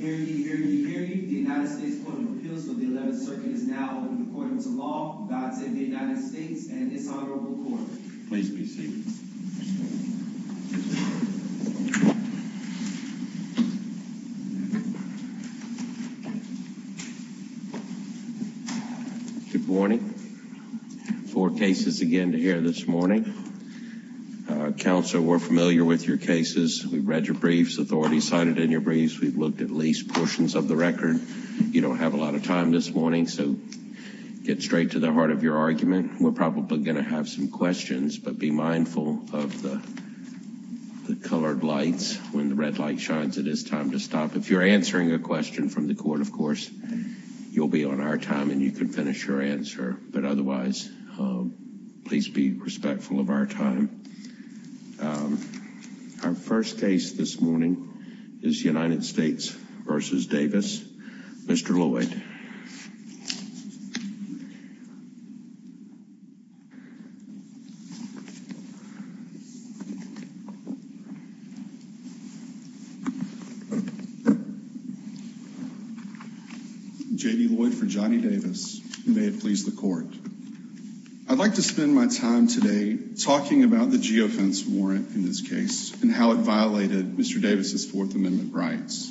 Harry D. Harry D. Harry, the United States Court of Appeals for the Eleventh Circuit is now open to court and to law. God save the United States and its Honorable Court. Please be seated. Good morning. Four cases again to hear this morning. Council, we're familiar with your cases. We've read your briefs, authority cited in your briefs. We've looked at least portions of the record. You don't have a lot of time this morning, so get straight to the heart of your argument. We're probably going to have some questions, but be mindful of the colored lights. When the red light shines, it is time to stop. If you're answering a question from the court, of course, you'll be on our time and you can finish your answer. But otherwise, please be respectful of our time. Our first case this morning is United States v. Davis. Mr. Lloyd. J.D. Lloyd for Johnnie Davis. May it please the court. I'd like to spend my time today talking about the geofence warrant in this case and how it violated Mr. Davis's Fourth Amendment rights.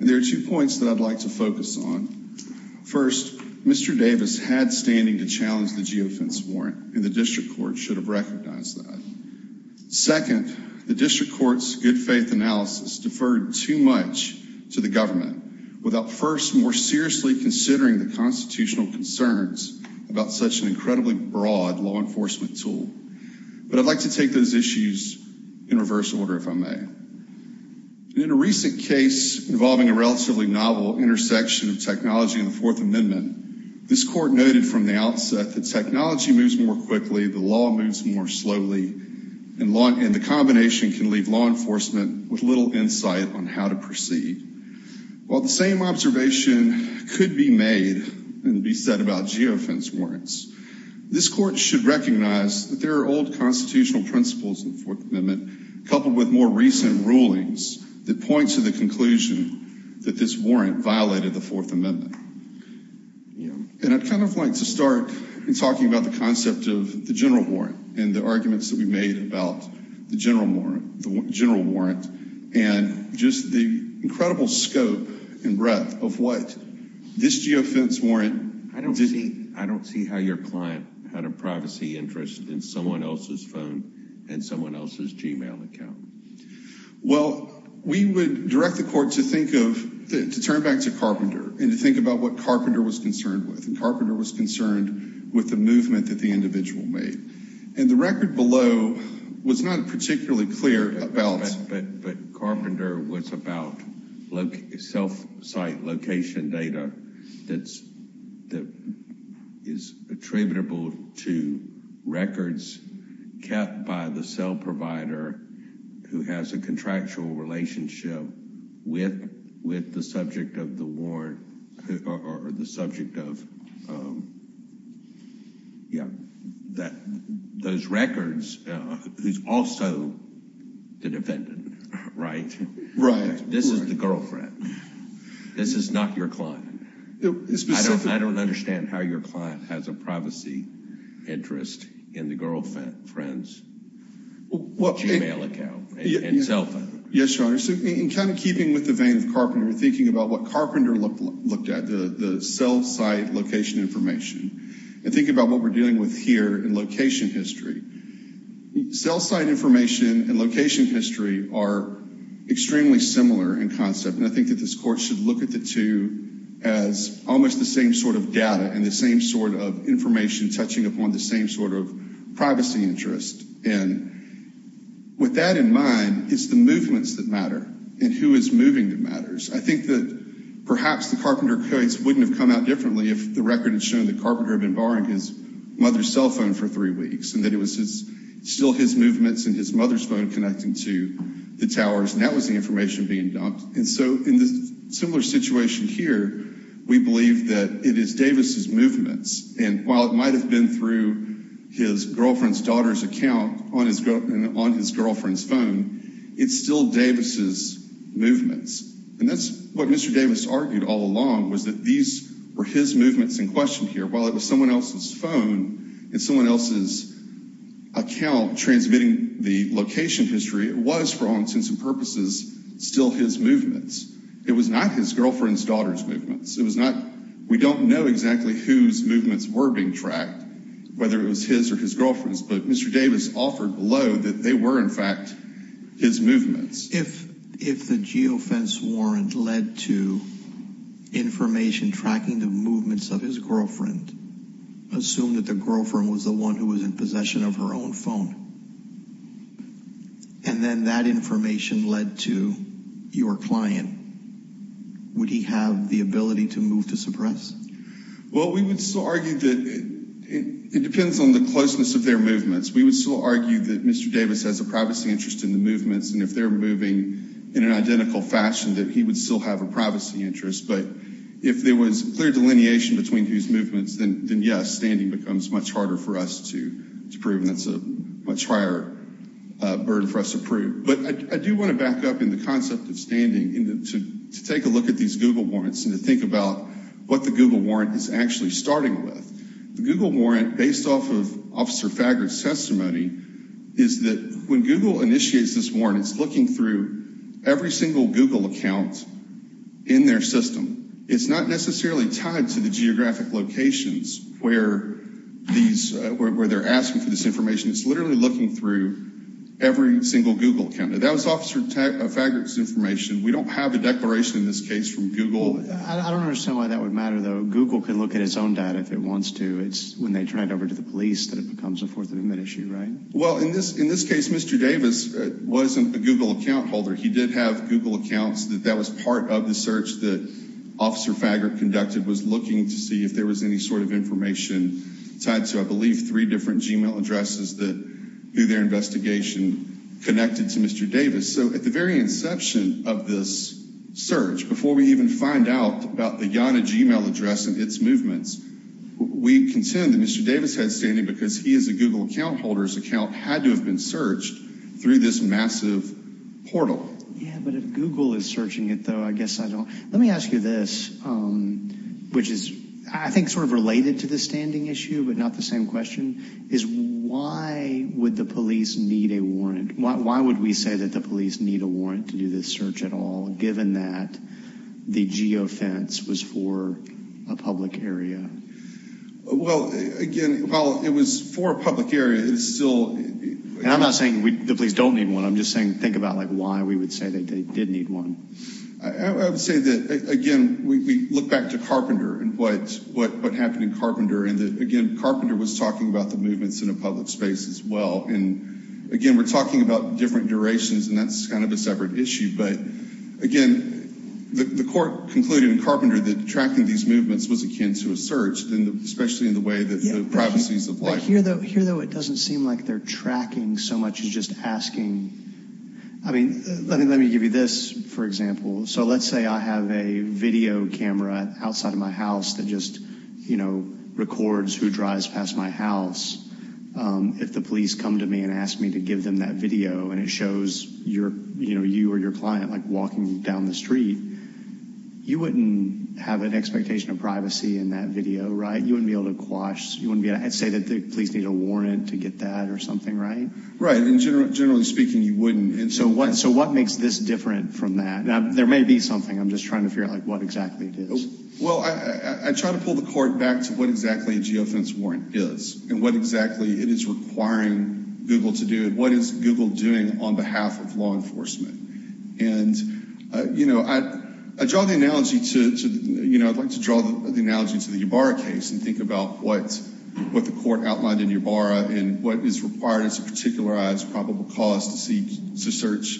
And there are two points that I'd like to focus on. First, Mr. Davis had standing to challenge the geofence warrant and the district court should have recognized that. Second, the district court's good faith analysis deferred too much to the government without first more seriously considering the constitutional concerns about such an incredibly broad law enforcement tool. But I'd like to take those issues in reverse order, if I may. In a recent case involving a relatively novel intersection of technology and the Fourth Amendment, this court noted from the outset that technology moves more quickly, the law moves more slowly, and the combination can leave law enforcement with little insight on how to proceed. While the same observation could be made and be said about geofence warrants, this court should recognize that there are old constitutional principles in the Fourth Amendment coupled with more recent rulings that point to the conclusion that this warrant violated the Fourth Amendment. And I'd kind of like to start in talking about the concept of the general warrant and the arguments that we made about the general warrant and just the incredible scope and breadth of what this geofence warrant... I don't see how your client had a privacy interest in someone else's phone and someone else's Gmail account. Well, we would direct the court to turn back to Carpenter and to think about what Carpenter was concerned with. And Carpenter was concerned with the movement that the individual made. And the record below was not particularly clear about... But Carpenter was about self-site location data that is attributable to records kept by the cell provider who has a contractual relationship with the subject of the warrant or the subject of... Those records, who's also the defendant, right? Right. This is the girlfriend. This is not your client. I don't understand how your client has a privacy interest in the girlfriend's Gmail account and cell phone. Yes, Your Honor. So in kind of keeping with the vein of Carpenter, thinking about what Carpenter looked at, the self-site location information, and thinking about what we're dealing with here in location history. Self-site information and location history are extremely similar in concept. And I think that this court should look at the two as almost the same sort of data and the same sort of information touching upon the same sort of privacy interest. And with that in mind, it's the movements that matter and who is moving that matters. I think that perhaps the Carpenter case wouldn't have come out differently if the record had shown that Carpenter had been borrowing his mother's cell phone for three weeks and that it was still his movements and his mother's phone connecting to the towers. And that was the information being dumped. And so in this similar situation here, we believe that it is Davis's movements. And while it might have been through his girlfriend's daughter's account on his girlfriend's phone, it's still Davis's movements. And that's what Mr. Davis argued all along was that these were his movements in question here. While it was someone else's phone and someone else's account transmitting the location history, it was, for all intents and purposes, still his movements. It was not his girlfriend's daughter's movements. We don't know exactly whose movements were being tracked, whether it was his or his girlfriend's, but Mr. Davis offered below that they were, in fact, his movements. If the geofence warrant led to information tracking the movements of his girlfriend, assume that the girlfriend was the one who was in possession of her own phone. And then that information led to your client. Would he have the ability to move to suppress? Well, we would still argue that it depends on the closeness of their movements. We would still argue that Mr. Davis has a privacy interest in the movements, and if they're moving in an identical fashion, that he would still have a privacy interest. But if there was clear delineation between whose movements, then yes, standing becomes much harder for us to prove, and that's a much higher burden for us to prove. But I do want to back up in the concept of standing to take a look at these Google warrants and to think about what the Google warrant is actually starting with. The Google warrant, based off of Officer Faggart's testimony, is that when Google initiates this warrant, it's looking through every single Google account in their system. It's not necessarily tied to the geographic locations where they're asking for this information. It's literally looking through every single Google account. That was Officer Faggart's information. We don't have a declaration in this case from Google. I don't understand why that would matter, though. Google can look at its own data if it wants to. It's when they turn it over to the police that it becomes a Fourth Amendment issue, right? Well, in this case, Mr. Davis wasn't a Google account holder. He did have Google accounts. That was part of the search that Officer Faggart conducted, was looking to see if there was any sort of information tied to, I believe, three different Gmail addresses that, through their investigation, connected to Mr. Davis. So, at the very inception of this search, before we even find out about the Yana Gmail address and its movements, we contend that Mr. Davis had standing because he, as a Google account holder's account, had to have been searched through this massive portal. Yeah, but if Google is searching it, though, I guess I don't. Let me ask you this, which is, I think, sort of related to the standing issue, but not the same question, is why would the police need a warrant? Why would we say that the police need a warrant to do this search at all, given that the geofence was for a public area? Well, again, while it was for a public area, it's still— And I'm not saying the police don't need one. I'm just saying think about, like, why we would say they did need one. I would say that, again, we look back to Carpenter and what happened in Carpenter. And, again, Carpenter was talking about the movements in a public space as well. And, again, we're talking about different durations, and that's kind of a separate issue. But, again, the court concluded in Carpenter that tracking these movements was akin to a search, especially in the way that the privacies of life— So let's say I have a video camera outside of my house that just, you know, records who drives past my house. If the police come to me and ask me to give them that video and it shows, you know, you or your client, like, walking down the street, you wouldn't have an expectation of privacy in that video, right? You wouldn't be able to quash—I'd say that the police need a warrant to get that or something, right? Right, and generally speaking, you wouldn't. So what makes this different from that? Now, there may be something. I'm just trying to figure out, like, what exactly it is. Well, I try to pull the court back to what exactly a geofence warrant is and what exactly it is requiring Google to do and what is Google doing on behalf of law enforcement. And, you know, I draw the analogy to—you know, I'd like to draw the analogy to the Ybarra case and think about what the court outlined in Ybarra and what is required as a particularized probable cause to search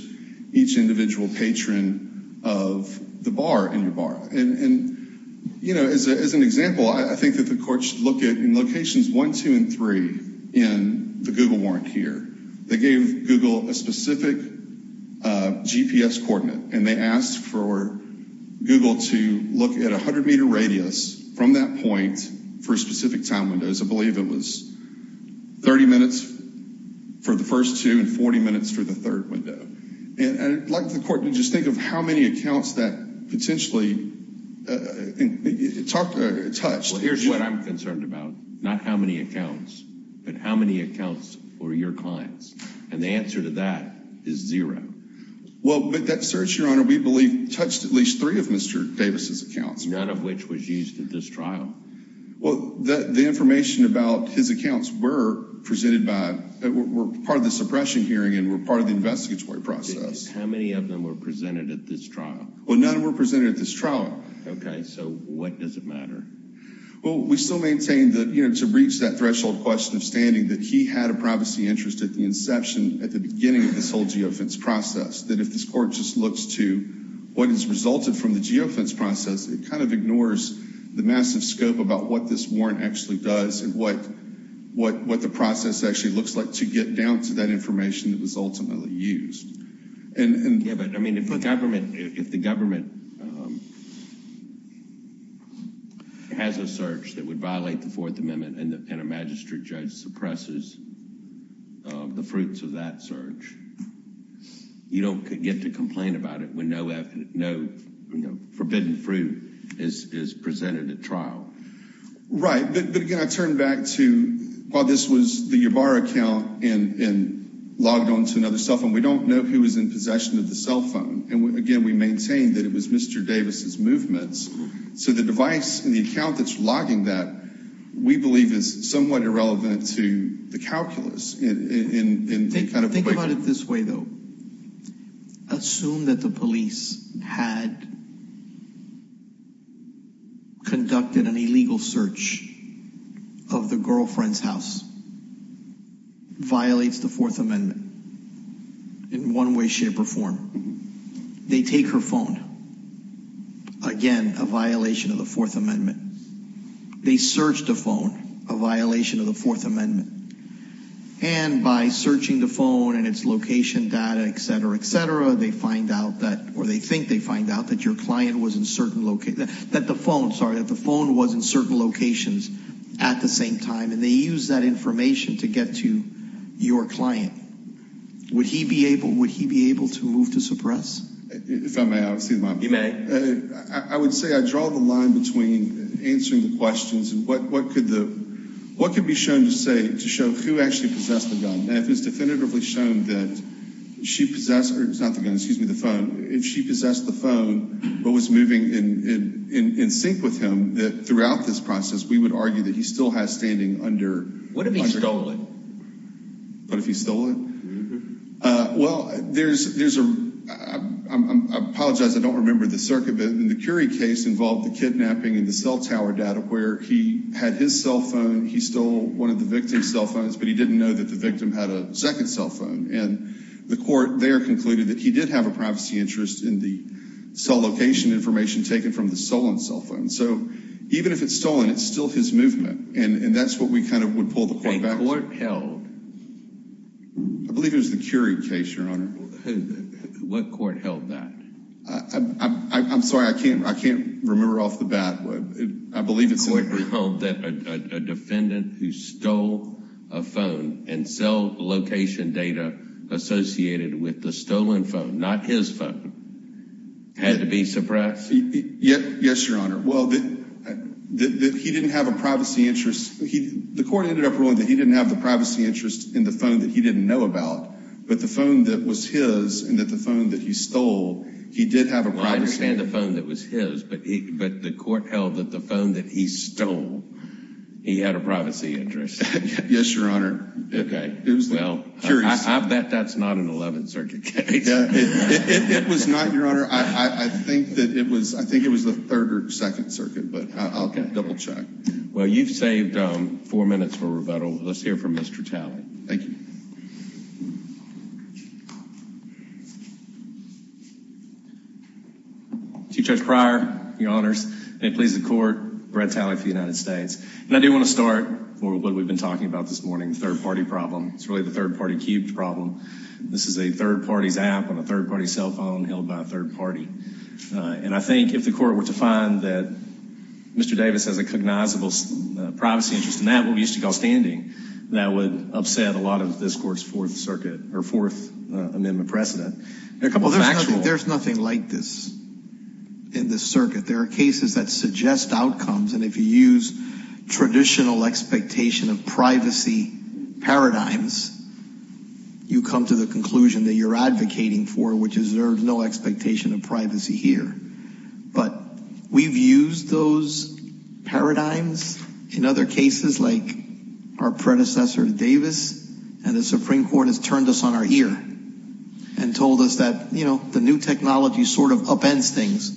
each individual patron of the bar in Ybarra. And, you know, as an example, I think that the court should look at in locations 1, 2, and 3 in the Google warrant here. They gave Google a specific GPS coordinate, and they asked for Google to look at a 100-meter radius from that point for specific time windows. I believe it was 30 minutes for the first two and 40 minutes for the third window. And I'd like the court to just think of how many accounts that potentially touched. Well, here's what I'm concerned about, not how many accounts, but how many accounts were your clients. And the answer to that is zero. Well, but that search, Your Honor, we believe touched at least three of Mr. Davis' accounts. None of which was used at this trial. Well, the information about his accounts were presented by—were part of the suppression hearing and were part of the investigatory process. How many of them were presented at this trial? Well, none were presented at this trial. Okay, so what does it matter? Well, we still maintain that, you know, to reach that threshold question of standing, that he had a privacy interest at the inception, at the beginning of this whole geofence process, that if this court just looks to what has resulted from the geofence process, it kind of ignores the massive scope about what this warrant actually does and what the process actually looks like to get down to that information that was ultimately used. Yeah, but, I mean, if the government has a search that would violate the Fourth Amendment and a magistrate judge suppresses the fruits of that search, you don't get to complain about it when no forbidden fruit is presented at trial. Right, but again, I turn back to, while this was the Ybarra account and logged onto another cell phone, we don't know who was in possession of the cell phone. And, again, we maintain that it was Mr. Davis' movements. So the device in the account that's logging that, we believe, is somewhat irrelevant to the calculus. Think about it this way, though. Assume that the police had conducted an illegal search of the girlfriend's house, violates the Fourth Amendment in one way, shape, or form. They take her phone. Again, a violation of the Fourth Amendment. They search the phone, a violation of the Fourth Amendment. And by searching the phone and its location data, et cetera, et cetera, they find out that, or they think they find out that your client was in certain locations, that the phone, sorry, that the phone was in certain locations at the same time, and they use that information to get to your client. Would he be able to move to suppress? If I may, I would say that I draw the line between answering the questions and what could be shown to show who actually possessed the gun. And if it's definitively shown that she possessed the phone but was moving in sync with him, that throughout this process, we would argue that he still has standing under- What if he stole it? What if he stole it? Well, there's a, I apologize, I don't remember the circuit, but in the Curie case involved the kidnapping and the cell tower data where he had his cell phone, he stole one of the victim's cell phones, but he didn't know that the victim had a second cell phone. And the court there concluded that he did have a privacy interest in the cell location information taken from the stolen cell phone. So even if it's stolen, it's still his movement, and that's what we kind of would pull the court back to. What court held? I believe it was the Curie case, Your Honor. What court held that? I'm sorry, I can't remember off the bat. I believe it's- A defendant who stole a phone and cell location data associated with the stolen phone, not his phone, had to be suppressed? Yes, Your Honor. Well, that he didn't have a privacy interest. The court ended up ruling that he didn't have the privacy interest in the phone that he didn't know about, but the phone that was his and that the phone that he stole, he did have a privacy- Well, I understand the phone that was his, but the court held that the phone that he stole, he had a privacy interest. Yes, Your Honor. Okay. It was the Curie- Well, I bet that's not an 11th Circuit case. It was not, Your Honor. I think that it was the 3rd or 2nd Circuit, but I'll double-check. Well, you've saved four minutes for rebuttal. Let's hear from Mr. Talley. Thank you. Chief Judge Pryor, Your Honors, may it please the Court, Brett Talley for the United States. And I do want to start for what we've been talking about this morning, the third-party problem. It's really the third-party cubed problem. This is a third-party's app on a third-party cell phone held by a third-party. And I think if the Court were to find that Mr. Davis has a cognizable privacy interest in that, what we used to call standing, that would upset a lot of this Court's Fourth Circuit or Fourth Amendment precedent. There's nothing like this in this circuit. There are cases that suggest outcomes, and if you use traditional expectation of privacy paradigms, you come to the conclusion that you're advocating for, which is there's no expectation of privacy here. But we've used those paradigms in other cases like our predecessor Davis, and the Supreme Court has turned us on our ear and told us that, you know, the new technology sort of upends things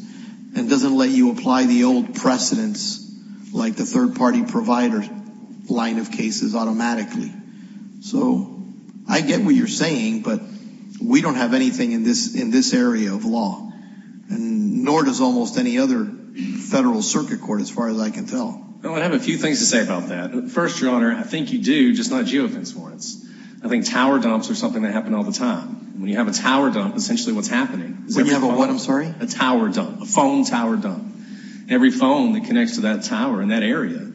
and doesn't let you apply the old precedents like the third-party provider line of cases automatically. So I get what you're saying, but we don't have anything in this area of law, nor does almost any other federal circuit court as far as I can tell. Well, I have a few things to say about that. First, Your Honor, I think you do, just not geofence warrants. I think tower dumps are something that happen all the time. When you have a tower dump, essentially what's happening is every phone. When you have a what, I'm sorry? A tower dump, a phone tower dump. Every phone that connects to that tower in that area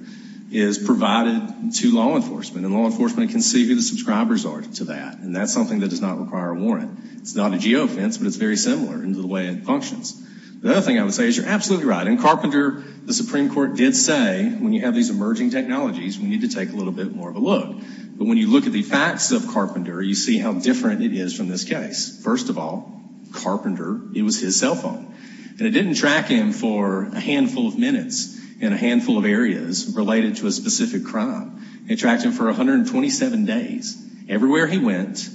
is provided to law enforcement, and law enforcement can see who the subscribers are to that, and that's something that does not require a warrant. It's not a geofence, but it's very similar in the way it functions. The other thing I would say is you're absolutely right. In Carpenter, the Supreme Court did say when you have these emerging technologies, we need to take a little bit more of a look. But when you look at the facts of Carpenter, you see how different it is from this case. First of all, Carpenter, it was his cell phone, and it didn't track him for a handful of minutes in a handful of areas related to a specific crime. It tracked him for 127 days. Everywhere he went,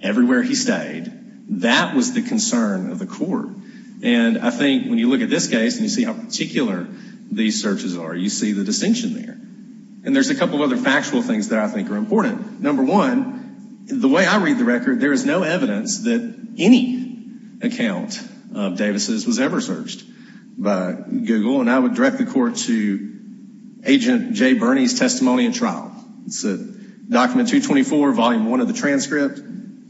everywhere he stayed, that was the concern of the court. And I think when you look at this case and you see how particular these searches are, you see the distinction there. And there's a couple of other factual things that I think are important. Number one, the way I read the record, there is no evidence that any account of Davis's was ever searched by Google, and I would direct the court to Agent Jay Burney's testimony in trial. It's document 224, volume 1 of the transcript,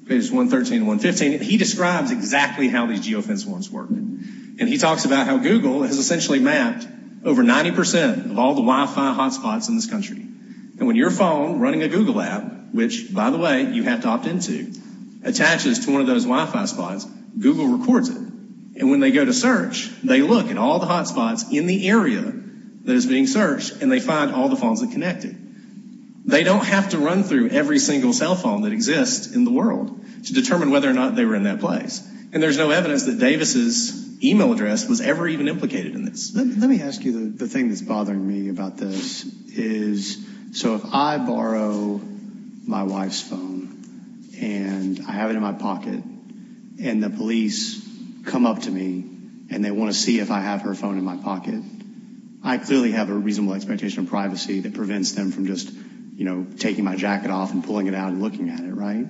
pages 113 and 115. He describes exactly how these geofence warrants work, and he talks about how Google has essentially mapped over 90% of all the Wi-Fi hotspots in this country. And when your phone, running a Google app, which, by the way, you have to opt into, attaches to one of those Wi-Fi spots, Google records it. And when they go to search, they look at all the hotspots in the area that is being searched, and they find all the phones that connect it. They don't have to run through every single cell phone that exists in the world to determine whether or not they were in that place. And there's no evidence that Davis's email address was ever even implicated in this. Let me ask you the thing that's bothering me about this is, so if I borrow my wife's phone, and I have it in my pocket, and the police come up to me, and they want to see if I have her phone in my pocket, I clearly have a reasonable expectation of privacy that prevents them from just, you know, taking my jacket off and pulling it out and looking at it, right?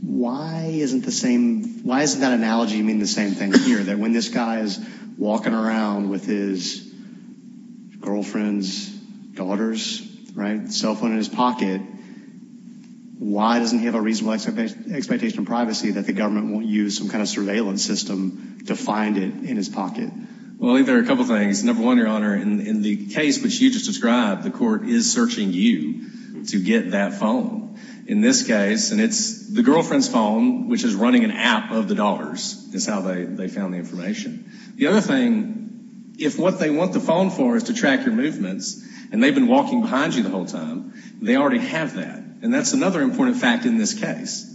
Why isn't that analogy mean the same thing here, that when this guy is walking around with his girlfriend's daughter's cell phone in his pocket, why doesn't he have a reasonable expectation of privacy that the government won't use some kind of surveillance system to find it in his pocket? Well, I think there are a couple things. Number one, Your Honor, in the case which you just described, the court is searching you to get that phone. In this case, and it's the girlfriend's phone, which is running an app of the dollars, is how they found the information. The other thing, if what they want the phone for is to track your movements, and they've been walking behind you the whole time, they already have that. And that's another important fact in this case.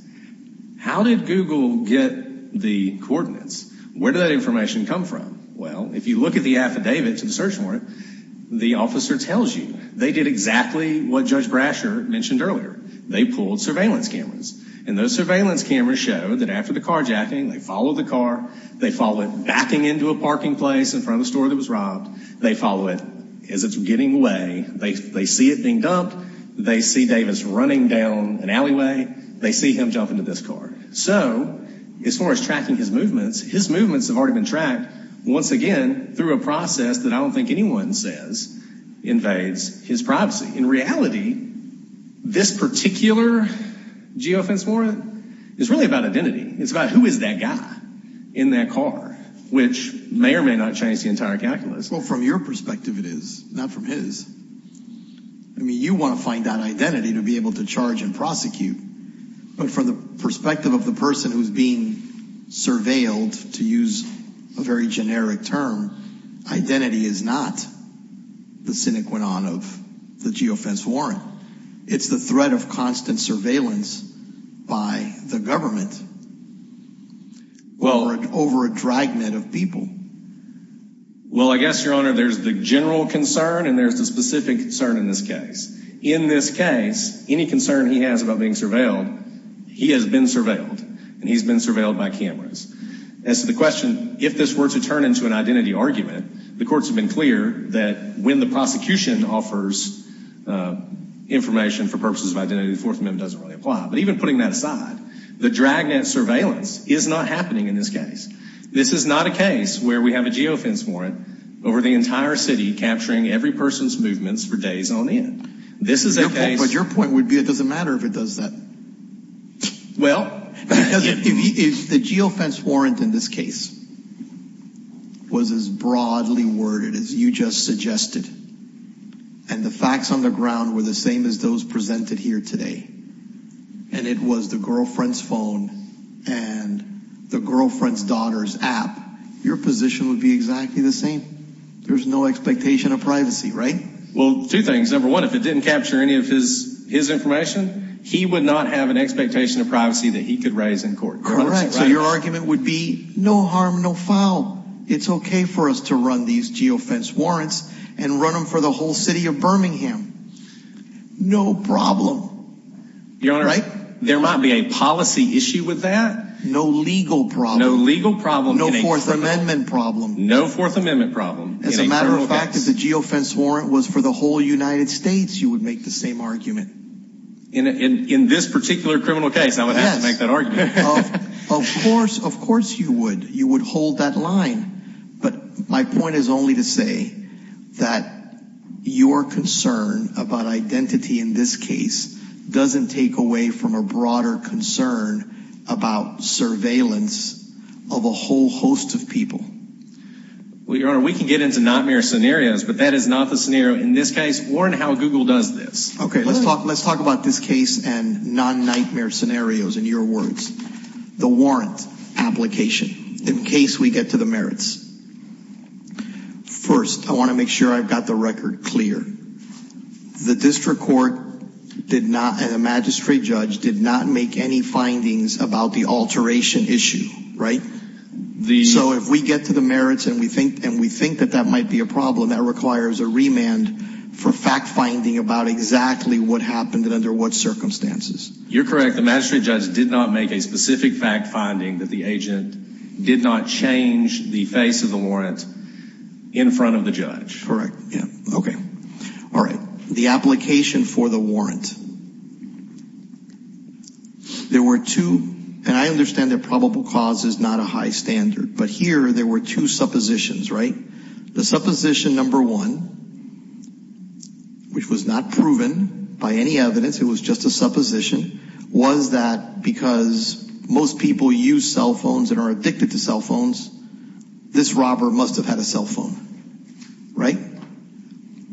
How did Google get the coordinates? Where did that information come from? Well, if you look at the affidavit to the search warrant, the officer tells you. They did exactly what Judge Brasher mentioned earlier. They pulled surveillance cameras. And those surveillance cameras showed that after the carjacking, they follow the car, they follow it backing into a parking place in front of the store that was robbed. They follow it as it's getting away. They see it being dumped. They see Davis running down an alleyway. They see him jump into this car. So as far as tracking his movements, his movements have already been tracked, once again, through a process that I don't think anyone says invades his privacy. In reality, this particular geofence warrant is really about identity. It's about who is that guy in that car, which may or may not change the entire calculus. Well, from your perspective it is, not from his. I mean, you want to find that identity to be able to charge and prosecute. But from the perspective of the person who's being surveilled, to use a very generic term, identity is not the sine qua non of the geofence warrant. It's the threat of constant surveillance by the government over a dragnet of people. Well, I guess, Your Honor, there's the general concern and there's the specific concern in this case. In this case, any concern he has about being surveilled, he has been surveilled. And he's been surveilled by cameras. As to the question, if this were to turn into an identity argument, the courts have been clear that when the prosecution offers information for purposes of identity, the Fourth Amendment doesn't really apply. But even putting that aside, the dragnet surveillance is not happening in this case. This is not a case where we have a geofence warrant over the entire city capturing every person's movements for days on end. This is a case... But your point would be it doesn't matter if it does that. Well... Because if the geofence warrant in this case was as broadly worded as you just suggested, and the facts on the ground were the same as those presented here today, and it was the girlfriend's phone and the girlfriend's daughter's app, your position would be exactly the same. There's no expectation of privacy, right? Well, two things. Number one, if it didn't capture any of his information, he would not have an expectation of privacy that he could raise in court. Correct. So your argument would be no harm, no foul. It's okay for us to run these geofence warrants and run them for the whole city of Birmingham. No problem. Your Honor, there might be a policy issue with that. No legal problem. No legal problem in a criminal case. No Fourth Amendment problem. No Fourth Amendment problem in a criminal case. As a matter of fact, if the geofence warrant was for the whole United States, you would make the same argument. In this particular criminal case, I would have to make that argument. Of course, of course you would. You would hold that line. But my point is only to say that your concern about identity in this case doesn't take away from a broader concern about surveillance of a whole host of people. Well, Your Honor, we can get into nightmare scenarios, but that is not the scenario in this case or in how Google does this. Okay, let's talk about this case and non-nightmare scenarios in your words. The warrant application, in case we get to the merits. First, I want to make sure I've got the record clear. The district court and the magistrate judge did not make any findings about the alteration issue, right? So if we get to the merits and we think that that might be a problem, that requires a remand for fact-finding about exactly what happened and under what circumstances. You're correct. The magistrate judge did not make a specific fact-finding that the agent did not change the face of the warrant in front of the judge. Correct. Okay. All right. The application for the warrant. There were two, and I understand that probable cause is not a high standard, but here there were two suppositions, right? The supposition number one, which was not proven by any evidence. It was just a supposition, was that because most people use cell phones and are addicted to cell phones, this robber must have had a cell phone, right?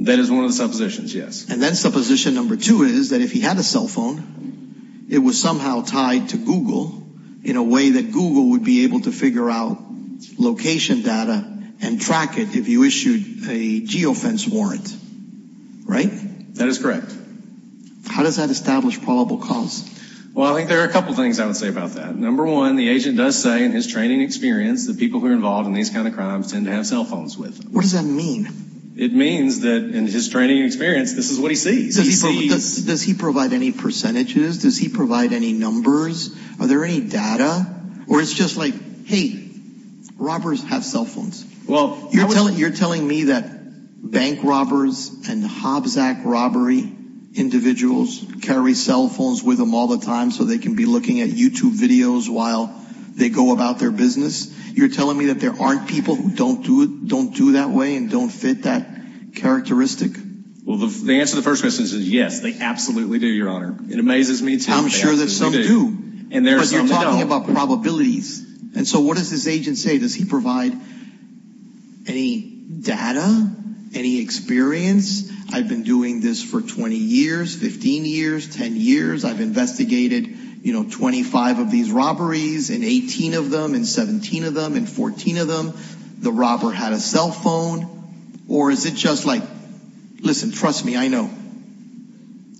That is one of the suppositions, yes. And then supposition number two is that if he had a cell phone, it was somehow tied to Google in a way that Google would be able to figure out location data and track it if you issued a geofence warrant, right? That is correct. How does that establish probable cause? Well, I think there are a couple things I would say about that. Number one, the agent does say in his training experience that people who are involved in these kind of crimes tend to have cell phones with them. What does that mean? It means that in his training experience, this is what he sees. Does he provide any percentages? Does he provide any numbers? Are there any data? Or it's just like, hey, robbers have cell phones. You're telling me that bank robbers and Hobbs Act robbery individuals carry cell phones with them all the time so they can be looking at YouTube videos while they go about their business? You're telling me that there aren't people who don't do that way and don't fit that characteristic? Well, the answer to the first question is yes, they absolutely do, Your Honor. It amazes me too. I'm sure that some do. And there are some that don't. Because you're talking about probabilities. And so what does this agent say? Does he provide any data, any experience? I've been doing this for 20 years, 15 years, 10 years. I've investigated, you know, 25 of these robberies and 18 of them and 17 of them and 14 of them. The robber had a cell phone. Or is it just like, listen, trust me, I know.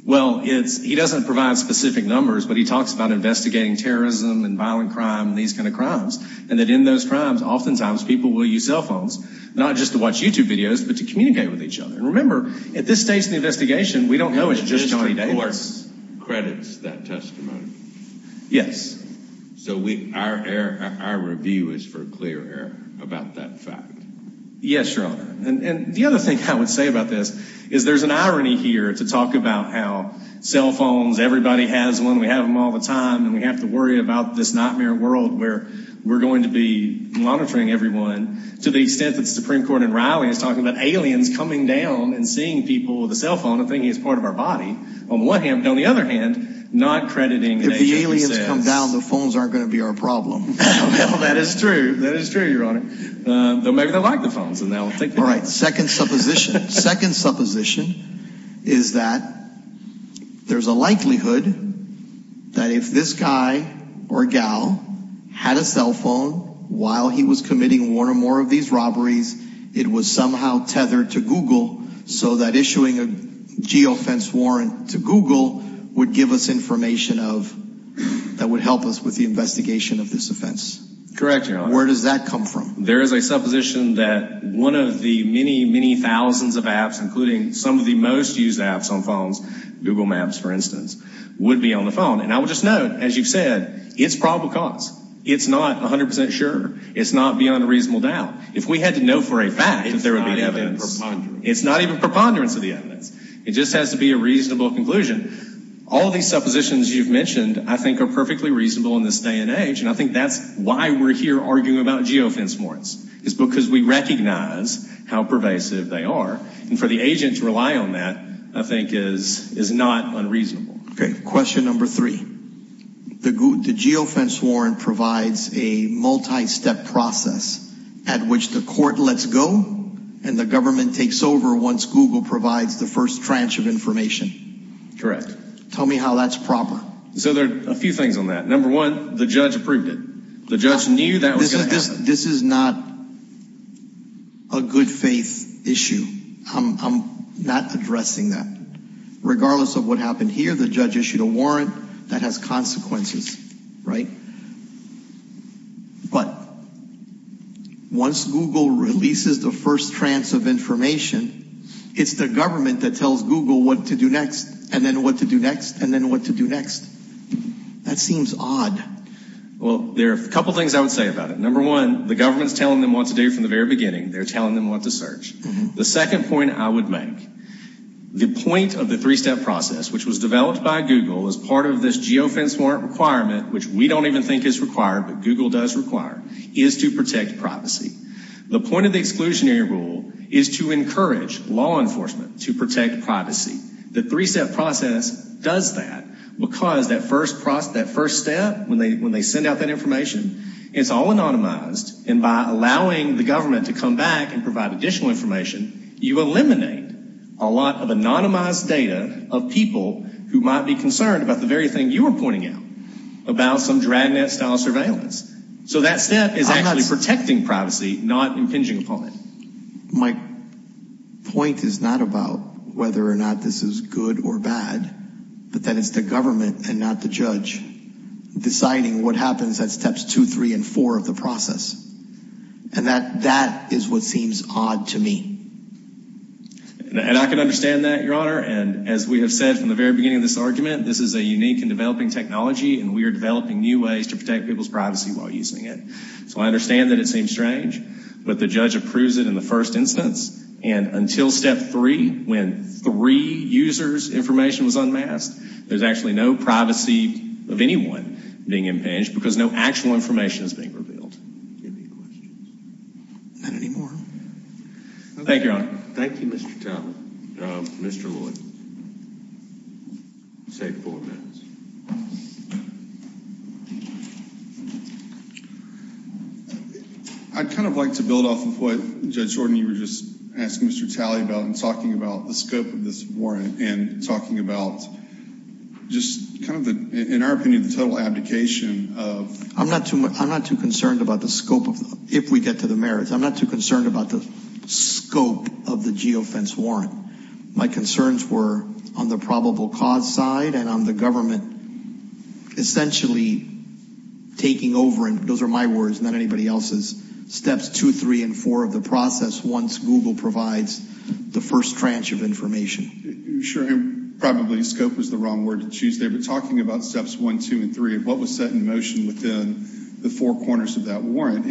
Well, he doesn't provide specific numbers, but he talks about investigating terrorism and violent crime and these kind of crimes. And that in those crimes, oftentimes people will use cell phones not just to watch YouTube videos but to communicate with each other. Remember, at this stage in the investigation, we don't know it's just Johnny Davis. The district court credits that testimony? Yes. So our review is for clear error about that fact? Yes, Your Honor. And the other thing I would say about this is there's an irony here to talk about how cell phones, everybody has one, we have them all the time, and we have to worry about this nightmare world where we're going to be monitoring everyone. To the extent that the Supreme Court in Raleigh is talking about aliens coming down and seeing people with a cell phone and thinking it's part of our body, on the one hand, but on the other hand, not crediting what the agency says. If the aliens come down, the phones aren't going to be our problem. Well, that is true. That is true, Your Honor. Though maybe they'll like the phones and they'll take them. All right, second supposition. Second supposition is that there's a likelihood that if this guy or gal had a cell phone while he was committing one or more of these robberies, it was somehow tethered to Google so that issuing a geofence warrant to Google would give us information that would help us with the investigation of this offense. Correct, Your Honor. Where does that come from? There is a supposition that one of the many, many thousands of apps, including some of the most used apps on phones, Google Maps, for instance, would be on the phone. And I will just note, as you've said, it's probable cause. It's not 100% sure. It's not beyond a reasonable doubt. If we had to know for a fact that there would be evidence. It's not even preponderance. It's not even preponderance of the evidence. It just has to be a reasonable conclusion. All these suppositions you've mentioned, I think, are perfectly reasonable in this day and age, I think that's why we're here arguing about geofence warrants. It's because we recognize how pervasive they are. And for the agent to rely on that, I think, is not unreasonable. Okay. Question number three. The geofence warrant provides a multi-step process at which the court lets go and the government takes over once Google provides the first tranche of information. Correct. Tell me how that's proper. So there are a few things on that. Number one, the judge approved it. The judge knew that was going to happen. This is not a good faith issue. I'm not addressing that. Regardless of what happened here, the judge issued a warrant. That has consequences, right? But once Google releases the first tranche of information, it's the government that tells Google what to do next and then what to do next and then what to do next. That seems odd. Well, there are a couple things I would say about it. Number one, the government is telling them what to do from the very beginning. They're telling them what to search. The second point I would make, the point of the three-step process, which was developed by Google as part of this geofence warrant requirement, which we don't even think is required, but Google does require, is to protect privacy. The point of the exclusionary rule is to encourage law enforcement to protect privacy. The three-step process does that because that first step, when they send out that information, it's all anonymized, and by allowing the government to come back and provide additional information, you eliminate a lot of anonymized data of people who might be concerned about the very thing you were pointing out, about some dragnet-style surveillance. So that step is actually protecting privacy, not impinging upon it. My point is not about whether or not this is good or bad, but that it's the government and not the judge deciding what happens at steps two, three, and four of the process. And that is what seems odd to me. And I can understand that, Your Honor. And as we have said from the very beginning of this argument, this is a unique and developing technology, and we are developing new ways to protect people's privacy while using it. So I understand that it seems strange, but the judge approves it in the first instance, and until step three, when three users' information was unmasked, there's actually no privacy of anyone being impinged because no actual information is being revealed. Any questions? Not anymore. Thank you, Your Honor. Thank you, Mr. Talbot. Mr. Lloyd. I'll take four minutes. I'd kind of like to build off of what Judge Jordan, you were just asking Mr. Talley about and talking about the scope of this warrant and talking about just kind of, in our opinion, the total abdication of. I'm not too concerned about the scope, if we get to the merits. I'm not too concerned about the scope of the geofence warrant. My concerns were on the probable cause side and on the government essentially taking over, and those are my words, not anybody else's, steps two, three, and four of the process once Google provides the first tranche of information. Sure, and probably scope was the wrong word to choose there. But talking about steps one, two, and three, what was set in motion within the four corners of that warrant,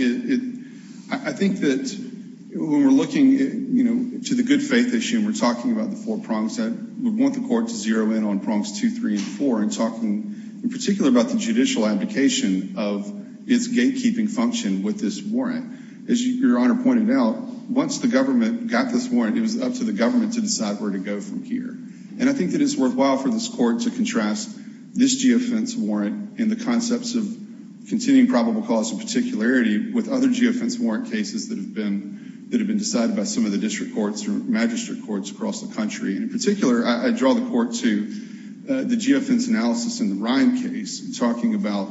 I think that when we're looking to the good faith issue and we're talking about the four prongs, we want the court to zero in on prongs two, three, and four and talking in particular about the judicial abdication of its gatekeeping function with this warrant. As Your Honor pointed out, once the government got this warrant, it was up to the government to decide where to go from here. And I think that it's worthwhile for this court to contrast this geofence warrant and the concepts of continuing probable cause and particularity with other geofence warrant cases that have been decided by some of the district courts or magistrate courts across the country. And in particular, I draw the court to the geofence analysis in the Ryan case, talking about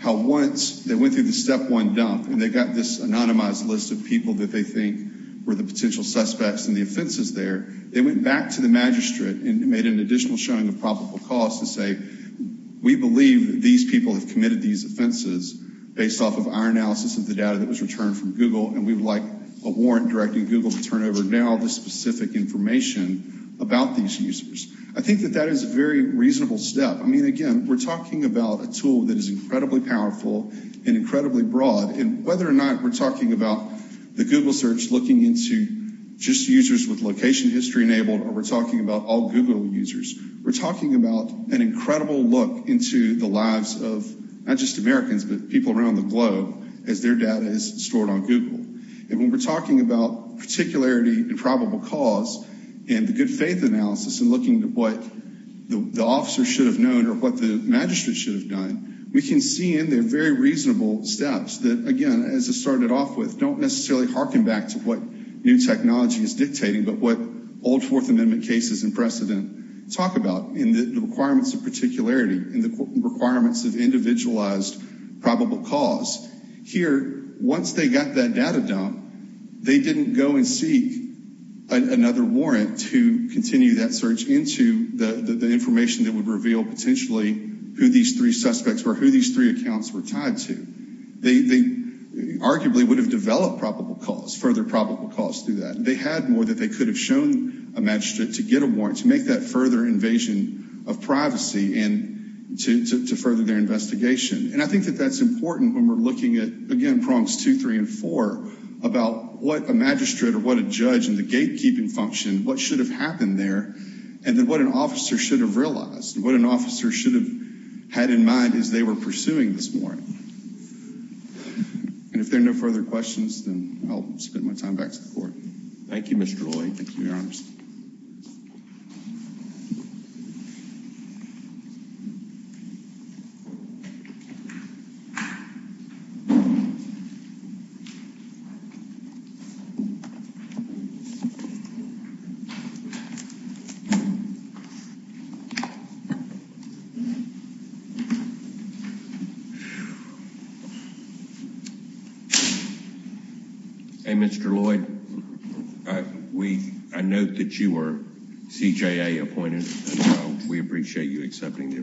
how once they went through the step one dump and they got this anonymized list of people that they think were the potential suspects and the offenses there, they went back to the magistrate and made an additional showing of probable cause to say, we believe these people have committed these offenses based off of our analysis of the data that was returned from Google and we would like a warrant directing Google to turn over now the specific information about these users. I think that that is a very reasonable step. I mean, again, we're talking about a tool that is incredibly powerful and incredibly broad. And whether or not we're talking about the Google search looking into just users with location history enabled or we're talking about all Google users, we're talking about an incredible look into the lives of not just Americans but people around the globe as their data is stored on Google. And when we're talking about particularity and probable cause and the good faith analysis and looking at what the officer should have known or what the magistrate should have done, we can see in there very reasonable steps that, again, as I started off with, don't necessarily harken back to what new technology is dictating but what old Fourth Amendment cases and precedent talk about in the requirements of particularity, in the requirements of individualized probable cause. Here, once they got that data dump, they didn't go and seek another warrant to continue that search into the information that would reveal potentially who these three suspects or who these three accounts were tied to. They arguably would have developed probable cause, further probable cause through that. They had more that they could have shown a magistrate to get a warrant to make that further invasion of privacy and to further their investigation. And I think that that's important when we're looking at, again, prongs two, three, and four, about what a magistrate or what a judge and the gatekeeping function, what should have happened there and then what an officer should have realized and what an officer should have had in mind as they were pursuing this warrant. And if there are no further questions, then I'll spend my time back to the court. Thank you, Mr. Roy. Thank you, Your Honor. Thank you. Hey, Mr. Lloyd, I note that you were CJA appointed. We appreciate you accepting the appointment. Yes, Your Honor.